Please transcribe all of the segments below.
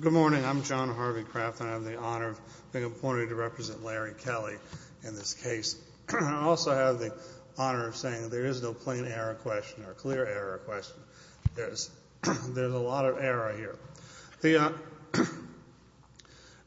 Good morning, I'm John Harvey Kraft and I have the honor of being appointed to represent Larry Kelly in this case. I also have the honor of saying there is no plain error question or clear error question. There's a lot of error here.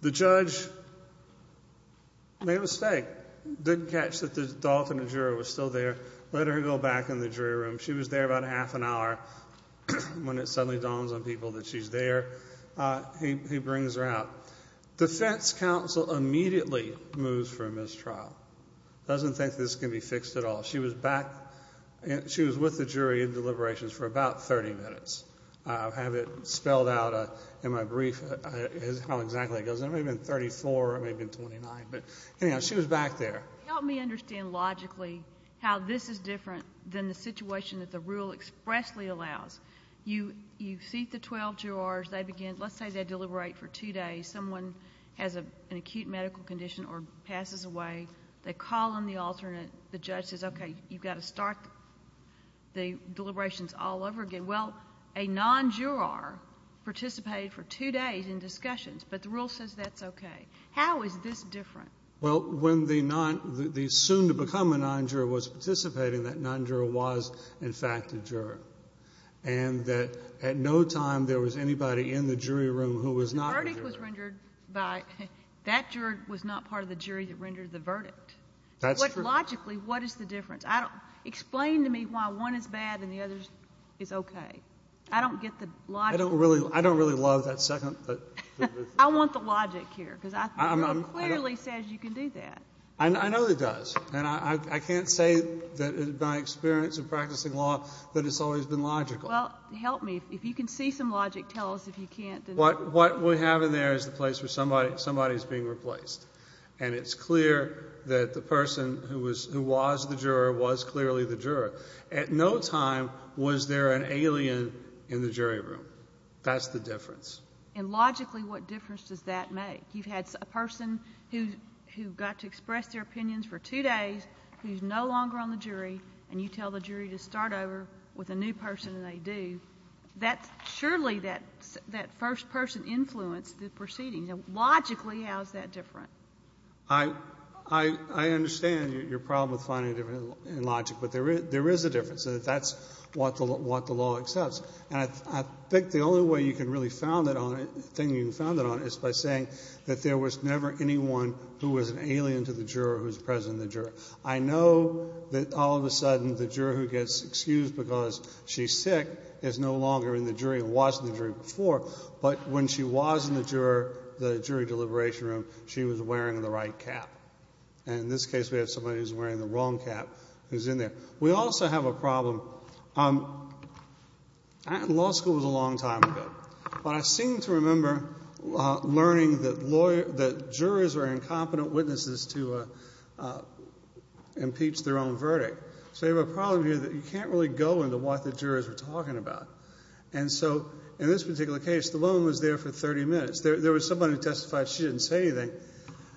The judge made a mistake, didn't catch that the adult in the juror was still there, let her go back in the jury room. She was there about half an hour. When it suddenly dawns on people that she's there, he brings her out. Defense counsel immediately moves for a mistrial. Doesn't think this can be fixed at all. She was with the jury in deliberations for about 30 minutes. I'll have it spelled out in my brief how exactly it goes. It may have been 34, it may have been 29. But anyhow, she was back there. Help me understand logically how this is different than the situation that the rule expressly allows. You seat the 12 jurors. They begin, let's say they deliberate for two days. Someone has an acute medical condition or passes away. They call in the alternate. The judge says, okay, you've got to start the deliberations all over again. Well, a non-juror participated for two days in discussions, but the rule says that's okay. How is this different? Well, when the soon to become a non-juror was participating, that non-juror was in fact a juror. And that at no time there was anybody in the jury room who was not a juror. The verdict was rendered by, that juror was not part of the jury that rendered the verdict. That's true. But logically, what is the difference? Explain to me why one is bad and the other is okay. I don't get the logic. I don't really love that second. I want the logic here, because it clearly says you can do that. I know it does. And I can't say that in my experience of practicing law that it's always been logical. Well, help me. If you can see some logic, tell us if you can't. What we have in there is the place where somebody is being replaced. And it's clear that the person who was the juror was clearly the juror. At no time was there an alien in the jury room. That's the difference. And logically, what difference does that make? You've had a person who got to express their opinions for two days, who's no longer on the jury, and you tell the jury to start over with a new person, and they do. That's surely that first person influenced the proceedings. Logically, how is that different? I understand your problem with finding a difference in logic. But there is a difference. That's what the law accepts. And I think the only way you can really found it on it, the thing you can found it on, is by saying that there was never anyone who was an alien to the juror who was present in the juror. I know that all of a sudden, the juror who gets excused because she's sick is no longer in the jury and was in the jury before. But when she was in the jury, the jury deliberation room, she was wearing the right cap. And in this case, we have somebody who's wearing the wrong cap who's in there. We also have a problem. Law school was a long time ago. But I seem to remember learning that jurors are incompetent witnesses to impeach their own verdict. So you have a problem here that you can't really go into what the jurors are talking about. And so in this particular case, the woman was there for 30 minutes. There was somebody who testified. She didn't say anything.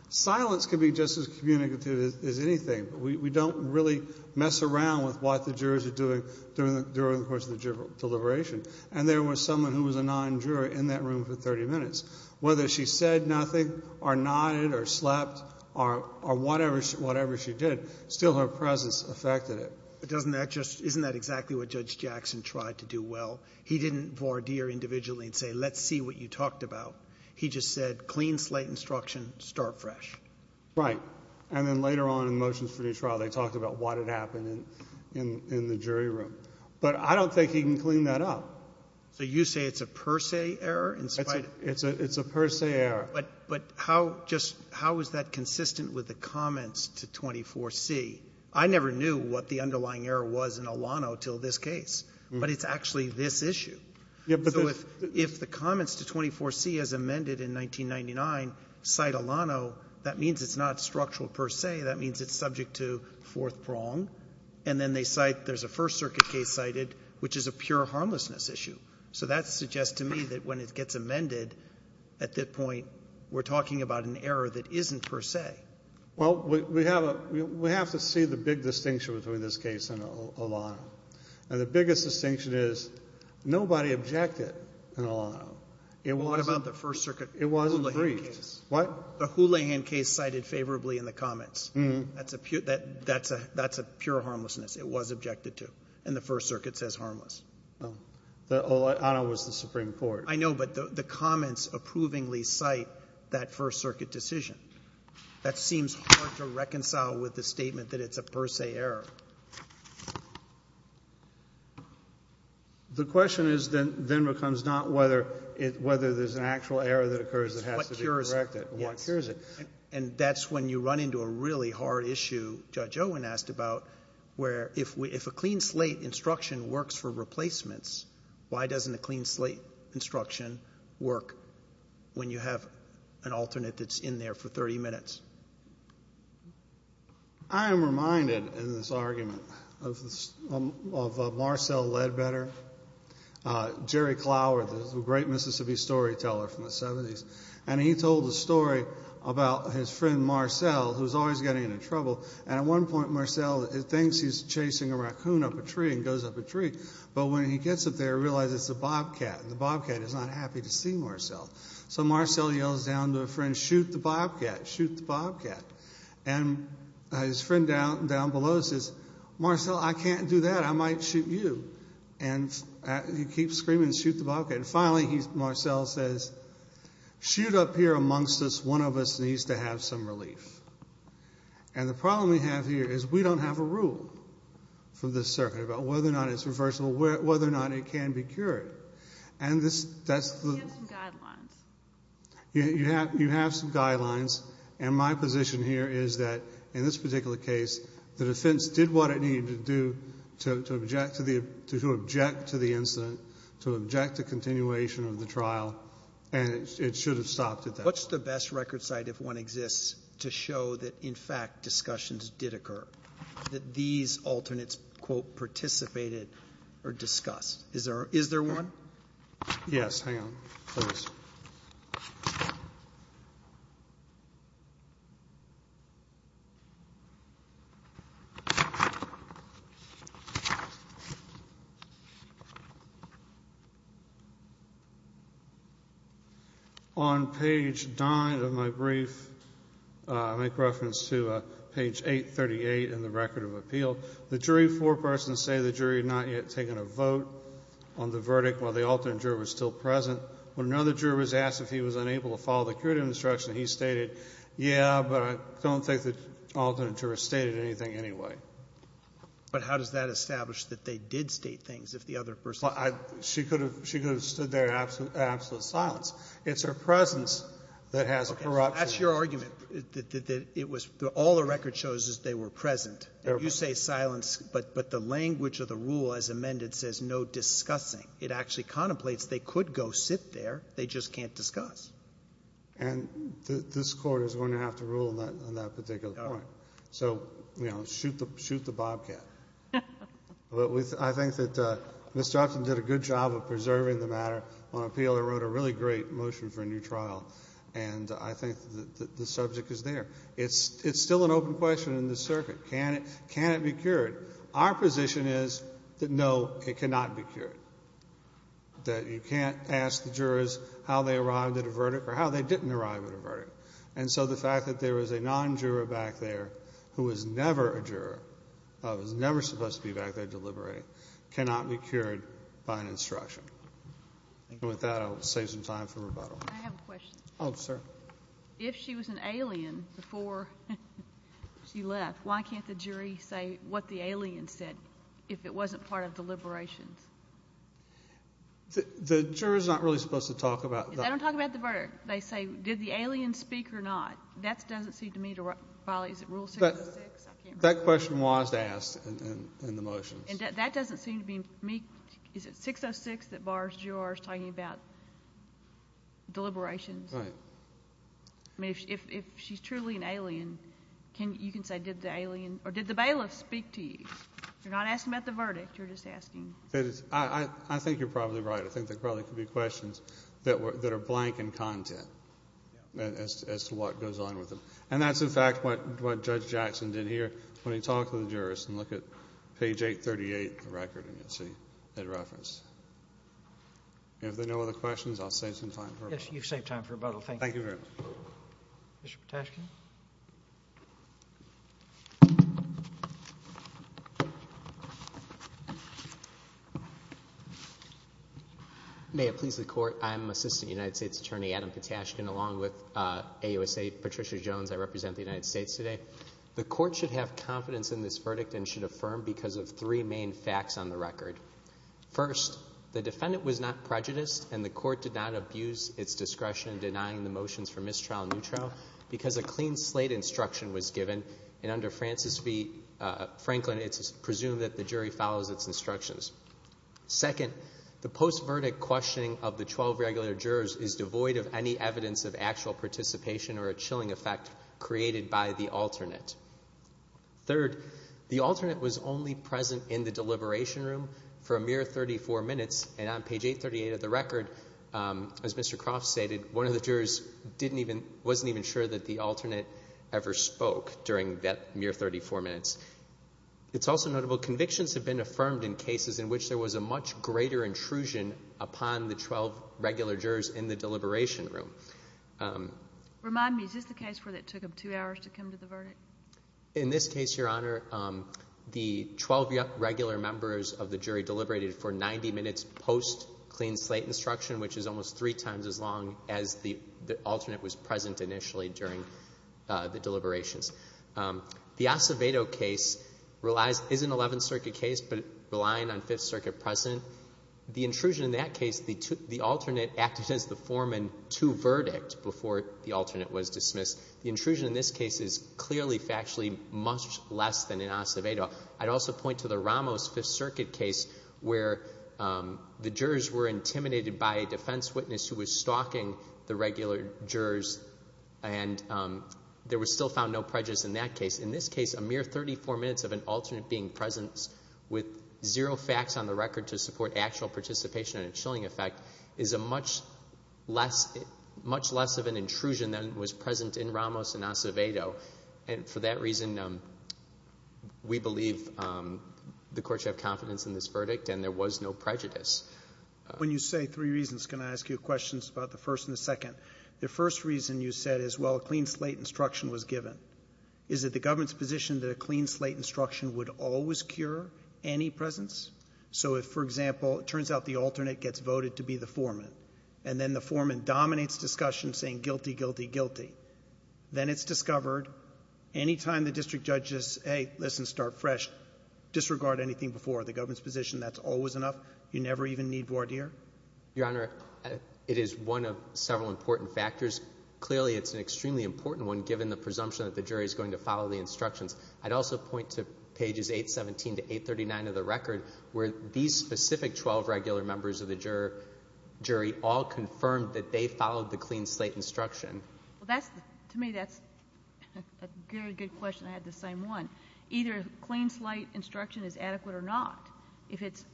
Silence can be just as communicative as anything. We don't really mess around with what the jurors are doing during the course of the juror deliberation. And there was someone who was a non-juror in that room for 30 minutes. Whether she said nothing or nodded or slept or whatever she did, still her presence affected it. But doesn't that just — isn't that exactly what Judge Jackson tried to do well? He didn't voir dire individually and say, let's see what you talked about. He just said, clean slate instruction, start fresh. Right. And then later on in the motions for detrial, they talked about what had happened in the jury room. But I don't think he can clean that up. So you say it's a per se error in spite of — It's a per se error. But how just — how is that consistent with the comments to 24C? I never knew what the underlying error was in Alano until this case. But it's actually this issue. Yeah, but — But the fact that the first circuit case and the second circuit case in line cite Alano, that means it's not structural per se. That means it's subject to fourth prong. And then they cite — there's a First Circuit case cited, which is a pure harmlessness issue. So that suggests to me that when it gets amended, at that point, we're talking about an error that isn't per se. Well, we have a — we have to see the big distinction between this case and Alano. And the biggest distinction is nobody objected in Alano. It wasn't — Well, what about the First Circuit —— Houlihan case? What? The Houlihan case cited favorably in the comments. That's a pure — that's a — that's a pure harmlessness. It was objected to. And the First Circuit says harmless. Oh. Alano was the Supreme Court. I know, but the comments approvingly cite that First Circuit decision. That seems hard to reconcile with the statement that it's a per se error. The question is then becomes not whether it — whether there's an actual error that occurs that has to be corrected. It's what cures it. Yes. Or what cures it. And that's when you run into a really hard issue Judge Owen asked about, where if a clean slate instruction works for replacements, why doesn't a clean slate instruction work when you have an alternate that's in there for 30 minutes? I am reminded in this argument of Marcel Ledbetter, Jerry Clower, the great Mississippi storyteller from the 70s. And he told a story about his friend Marcel, who's always getting into trouble. And at one point, Marcel thinks he's chasing a raccoon up a tree and goes up a tree, and he's happy to see Marcel. So Marcel yells down to a friend, shoot the bobcat, shoot the bobcat. And his friend down below says, Marcel, I can't do that. I might shoot you. And he keeps screaming, shoot the bobcat. And finally, Marcel says, shoot up here amongst us. One of us needs to have some relief. And the problem we have here is we don't have a rule from this circuit about whether or not it's reversible, whether or not it can be cured. And this, that's the... You have some guidelines. You have some guidelines. And my position here is that, in this particular case, the defense did what it needed to do to object to the incident, to object to continuation of the trial, and it should have stopped at that. What's the best record site, if one exists, to show that, in fact, discussions did occur, that these alternates, quote, participated or discussed? Is there one? Yes. Hang on. Please. On page 9 of my brief, I make reference to page 838 in the Record of Appeal, the jury four persons say the jury had not yet taken a vote on the verdict while the alternate juror was asked if he was unable to follow the curative instruction, he stated, yeah, but I don't think the alternate juror stated anything anyway. But how does that establish that they did state things if the other person... Well, she could have stood there in absolute silence. It's her presence that has a corruption... Okay. That's your argument, that it was, all the record shows is they were present. You say silence, but the language of the rule as amended says no discussing. It actually contemplates they could go sit there, they just can't discuss. And this Court is going to have to rule on that particular point. So, you know, shoot the bobcat. But I think that Ms. Joplin did a good job of preserving the matter on appeal. It wrote a really great motion for a new trial, and I think the subject is there. It's still an open question in this circuit. Can it be cured? Our position is that, no, it cannot be cured. That you can't ask the jurors how they arrived at a verdict or how they didn't arrive at a verdict. And so the fact that there was a non-juror back there who was never a juror, who was never supposed to be back there deliberating, cannot be cured by an instruction. And with that, I'll save some time for rebuttal. I have a question. Oh, sir. If she was an alien before she left, why can't the jury say what the alien said if it wasn't part of deliberations? The jurors are not really supposed to talk about that. They don't talk about the verdict. They say, did the alien speak or not? That doesn't seem to me to violate, is it Rule 606? That question was asked in the motion. That doesn't seem to be me, is it 606 that bars jurors talking about deliberations? Right. I mean, if she's truly an alien, you can say, did the alien, or did the bailiff speak to me? You're not asking about the verdict. You're just asking. I think you're probably right. I think there probably could be questions that are blank in content as to what goes on with them. And that's, in fact, what Judge Jackson did here when he talked to the jurors. And look at page 838 of the record, and you'll see that reference. And if there are no other questions, I'll save some time for rebuttal. Yes, you've saved time for rebuttal. Thank you. Thank you very much. Mr. Patashkin? May it please the Court, I'm Assistant United States Attorney Adam Patashkin, along with AUSA Patricia Jones. I represent the United States today. The Court should have confidence in this verdict and should affirm because of three main facts on the record. First, the defendant was not prejudiced, and the Court did not abuse its discretion in instruction was given, and under Francis B. Franklin, it's presumed that the jury follows its instructions. Second, the post-verdict questioning of the 12 regular jurors is devoid of any evidence of actual participation or a chilling effect created by the alternate. Third, the alternate was only present in the deliberation room for a mere 34 minutes, and on page 838 of the record, as Mr. Croft stated, one of the jurors wasn't even sure that the alternate ever spoke during that mere 34 minutes. It's also notable convictions have been affirmed in cases in which there was a much greater intrusion upon the 12 regular jurors in the deliberation room. Remind me, is this the case where it took them two hours to come to the verdict? In this case, Your Honor, the 12 regular members of the jury deliberated for 90 minutes post-clean slate instruction, which is almost three times as long as the alternate was present initially during the deliberations. The Acevedo case is an Eleventh Circuit case, but relying on Fifth Circuit precedent. The intrusion in that case, the alternate acted as the foreman to verdict before the alternate was dismissed. The intrusion in this case is clearly factually much less than in Acevedo. I'd also point to the Ramos Fifth Circuit case where the jurors were intimidated by a defense witness who was stalking the regular jurors, and there was still found no prejudice in that case. In this case, a mere 34 minutes of an alternate being present with zero facts on the record to support actual participation in a chilling effect is a much less of an intrusion than was present in Ramos and Acevedo, and for that reason, we believe the courts have confidence in this verdict and there was no prejudice. When you say three reasons, can I ask you questions about the first and the second? The first reason you said is, well, a clean slate instruction was given. Is it the government's position that a clean slate instruction would always cure any presence? So if, for example, it turns out the alternate gets voted to be the foreman, and then the foreman dominates discussion saying guilty, guilty, guilty, then it's discovered, any time the district judge says, hey, listen, start fresh, disregard anything before the jury, they never even need voir dire? Your Honor, it is one of several important factors. Clearly, it's an extremely important one, given the presumption that the jury is going to follow the instructions. I'd also point to pages 817 to 839 of the record, where these specific 12 regular members of the jury all confirmed that they followed the clean slate instruction. Well, that's, to me, that's a very good question, I had the same one. Either clean slate instruction is adequate or not. If it's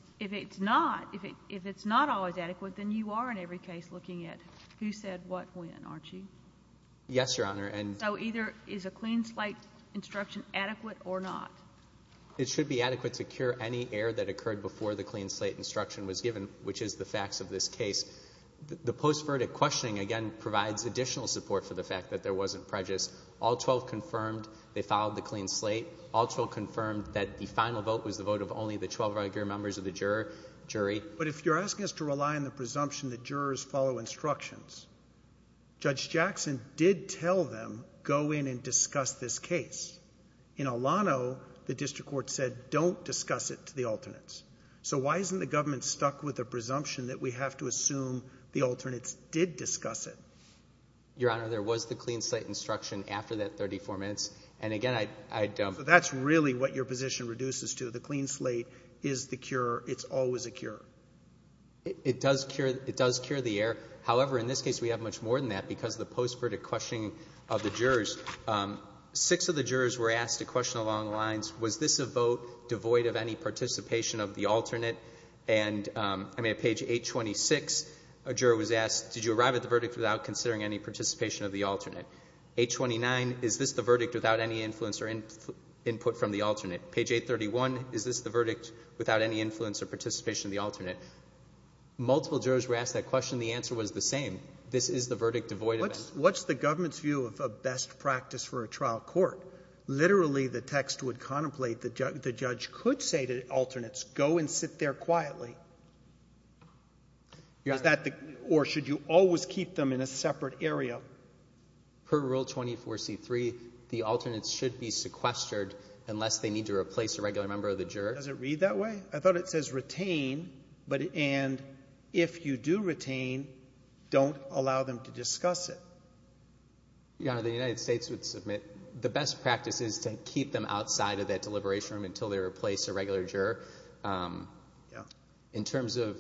not, if it's not always adequate, then you are, in every case, looking at who said what when, aren't you? Yes, Your Honor, and So either is a clean slate instruction adequate or not? It should be adequate to cure any error that occurred before the clean slate instruction was given, which is the facts of this case. The post-verdict questioning, again, provides additional support for the fact that there wasn't prejudice. All 12 confirmed they followed the clean slate. All 12 confirmed that the final vote was the vote of only the 12 regular members of the jury. But if you're asking us to rely on the presumption that jurors follow instructions, Judge Jackson did tell them, go in and discuss this case. In Alano, the district court said, don't discuss it to the alternates. So why isn't the government stuck with the presumption that we have to assume the alternates did discuss it? Your Honor, there was the clean slate instruction after that 34 minutes, and again, I'd So that's really what your position reduces to. The clean slate is the cure. It's always a cure. It does cure. It does cure the error. However, in this case, we have much more than that because the post-verdict questioning of the jurors, six of the jurors were asked a question along the lines, was this a vote devoid of any participation of the alternate? And I mean, at page 826, a juror was asked, did you arrive at the verdict without considering any participation of the alternate? Page 829, is this the verdict without any influence or input from the alternate? Page 831, is this the verdict without any influence or participation of the alternate? Multiple jurors were asked that question. The answer was the same. This is the verdict devoid of any What's the government's view of a best practice for a trial court? Literally the text would contemplate the judge could say to alternates, go and sit there quietly. Or should you always keep them in a separate area? Per Rule 24C3, the alternates should be sequestered unless they need to replace a regular member of the juror. Does it read that way? I thought it says retain, but and if you do retain, don't allow them to discuss it. Yeah, the United States would submit the best practices to keep them outside of that deliberation room until they replace a regular juror. In terms of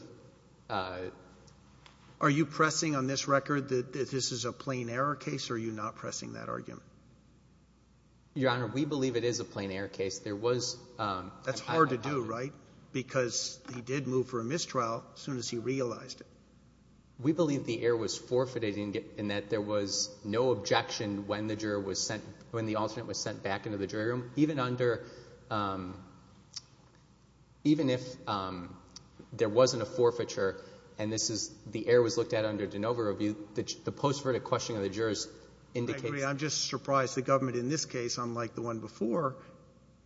Are you pressing on this record that this is a plain error case or are you not pressing that argument? Your Honor, we believe it is a plain error case. There was That's hard to do, right? Because he did move for a mistrial as soon as he realized it. We believe the error was forfeited in that there was no objection when the juror was sent back into the jury room. Even if there wasn't a forfeiture and the error was looked at under de novo review, the post-verdict questioning of the jurors indicates I'm just surprised the government in this case, unlike the one before,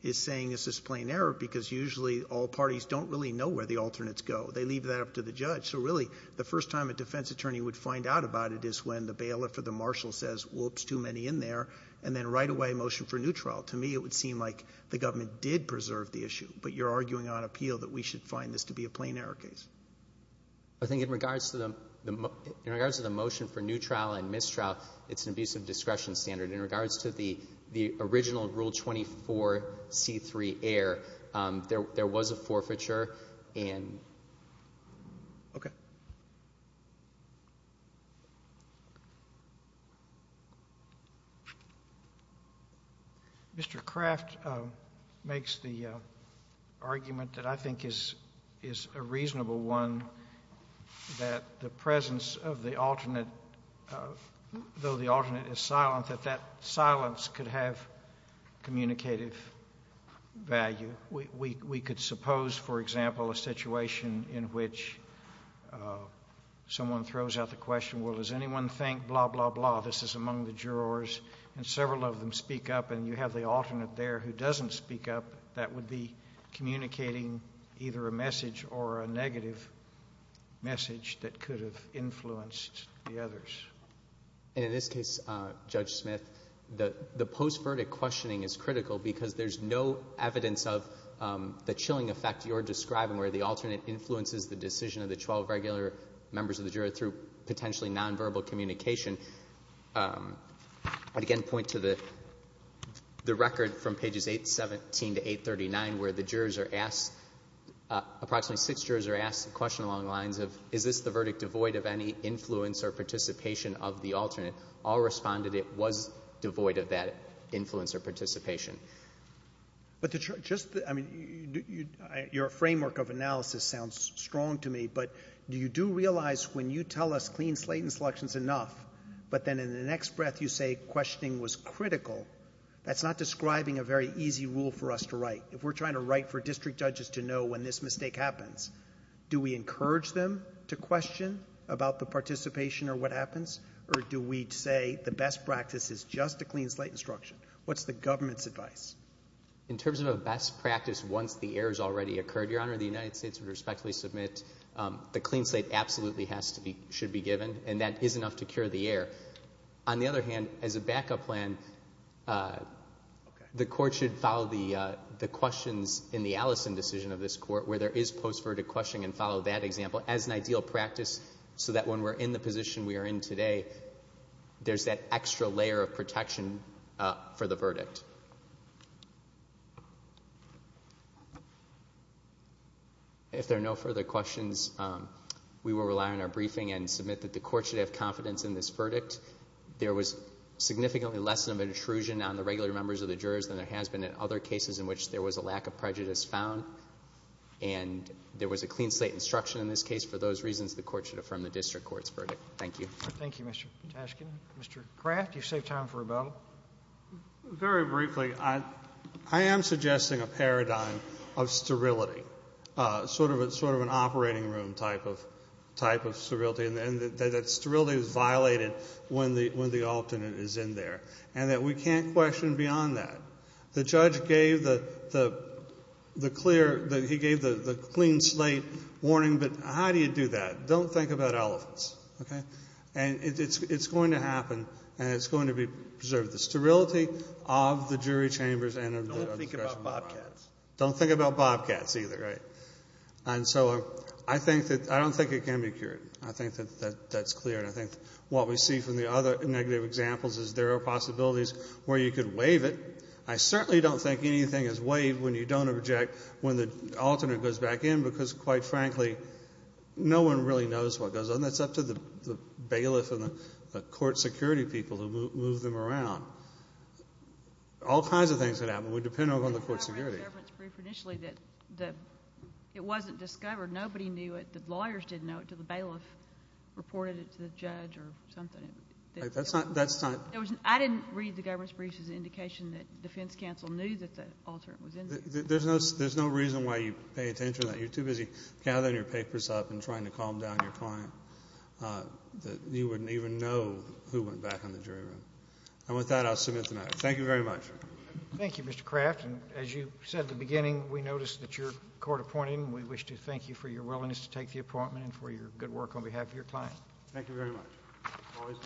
is saying this is a plain error because usually all parties don't really know where the alternates go. They leave that up to the judge. So really, the first time a defense attorney would find out about it is when the bailiff or the marshal says whoops, too many in there, and then right away a motion for a new trial. To me, it would seem like the government did preserve the issue, but you're arguing on appeal that we should find this to be a plain error case. I think in regards to the motion for new trial and mistrial, it's an abuse of discretion standard. But in regards to the original Rule 24C3 error, there was a forfeiture, and ‑‑ Okay. Mr. Craft makes the argument that I think is a reasonable one, that the presence of the alternate, though the alternate is silent, that that silence could have communicative value. We could suppose, for example, a situation in which someone throws out the question, well, does anyone think blah, blah, blah, this is among the jurors, and several of them speak up and you have the alternate there who doesn't speak up, that would be communicating either a message or a negative message that could have influenced the others. And in this case, Judge Smith, the post‑verdict questioning is critical because there's no evidence of the chilling effect you're describing where the alternate influences the decision of the 12 regular members of the jury through potentially nonverbal communication. I would, again, point to the record from pages 817 to 839 where the jurors are asked ‑‑ approximately six jurors are asked the question along the lines of is this the verdict devoid of any influence or participation of the alternate? All responded it was devoid of that influence or participation. But just ‑‑ I mean, your framework of analysis sounds strong to me, but do you do us clean slate instructions enough, but then in the next breath you say questioning was critical, that's not describing a very easy rule for us to write. If we're trying to write for district judges to know when this mistake happens, do we encourage them to question about the participation or what happens, or do we say the best practice is just a clean slate instruction? What's the government's advice? In terms of a best practice once the errors already occurred, Your Honor, the United States would respectfully submit the clean slate absolutely has to be ‑‑ should be given and that is enough to cure the error. On the other hand, as a backup plan, the court should follow the questions in the Allison decision of this court where there is post‑verdict questioning and follow that example as an ideal practice so that when we're in the position we are in today, there's that extra layer of protection for the verdict. If there are no further questions, we will rely on our briefing and submit that the court should have confidence in this verdict. There was significantly less of an intrusion on the regular members of the jurors than there has been in other cases in which there was a lack of prejudice found, and there was a clean slate instruction in this case. For those reasons, the court should affirm the district court's verdict. Thank you. Thank you, Mr. Tashkin. Mr. Kraft, you saved time for a bell. Very briefly, I am suggesting a paradigm of sterility, sort of an operating room type of sterility, and that sterility is violated when the alternate is in there, and that we can't question beyond that. The judge gave the clear ‑‑ he gave the clean slate warning, but how do you do that? Don't think about elephants, okay? And it's going to happen, and it's going to be preserved. The sterility of the jury chambers and of the discretion of the rostrum. Don't think about bobcats. Don't think about bobcats either, right? And so I think that ‑‑ I don't think it can be cured. I think that that's clear, and I think what we see from the other negative examples is there are possibilities where you could waive it. I certainly don't think anything is waived when you don't object when the alternate goes back in, because, quite frankly, no one really knows what goes on. That's up to the bailiff and the court security people who move them around. All kinds of things can happen. We depend on the court security. I read the government's brief initially that it wasn't discovered. Nobody knew it. The lawyers didn't know it until the bailiff reported it to the judge or something. That's not ‑‑ I didn't read the government's brief as an indication that defense counsel knew that the alternate was in there. There's no reason why you pay attention to that. You're too busy gathering your papers up and trying to calm down your client that you wouldn't even know who went back in the jury room. And with that, I'll submit the matter. Thank you very much. Thank you, Mr. Craft. And as you said at the beginning, we noticed that you're court appointed, and we wish to thank you for your willingness to take the appointment and for your good work on behalf of your client. Thank you very much.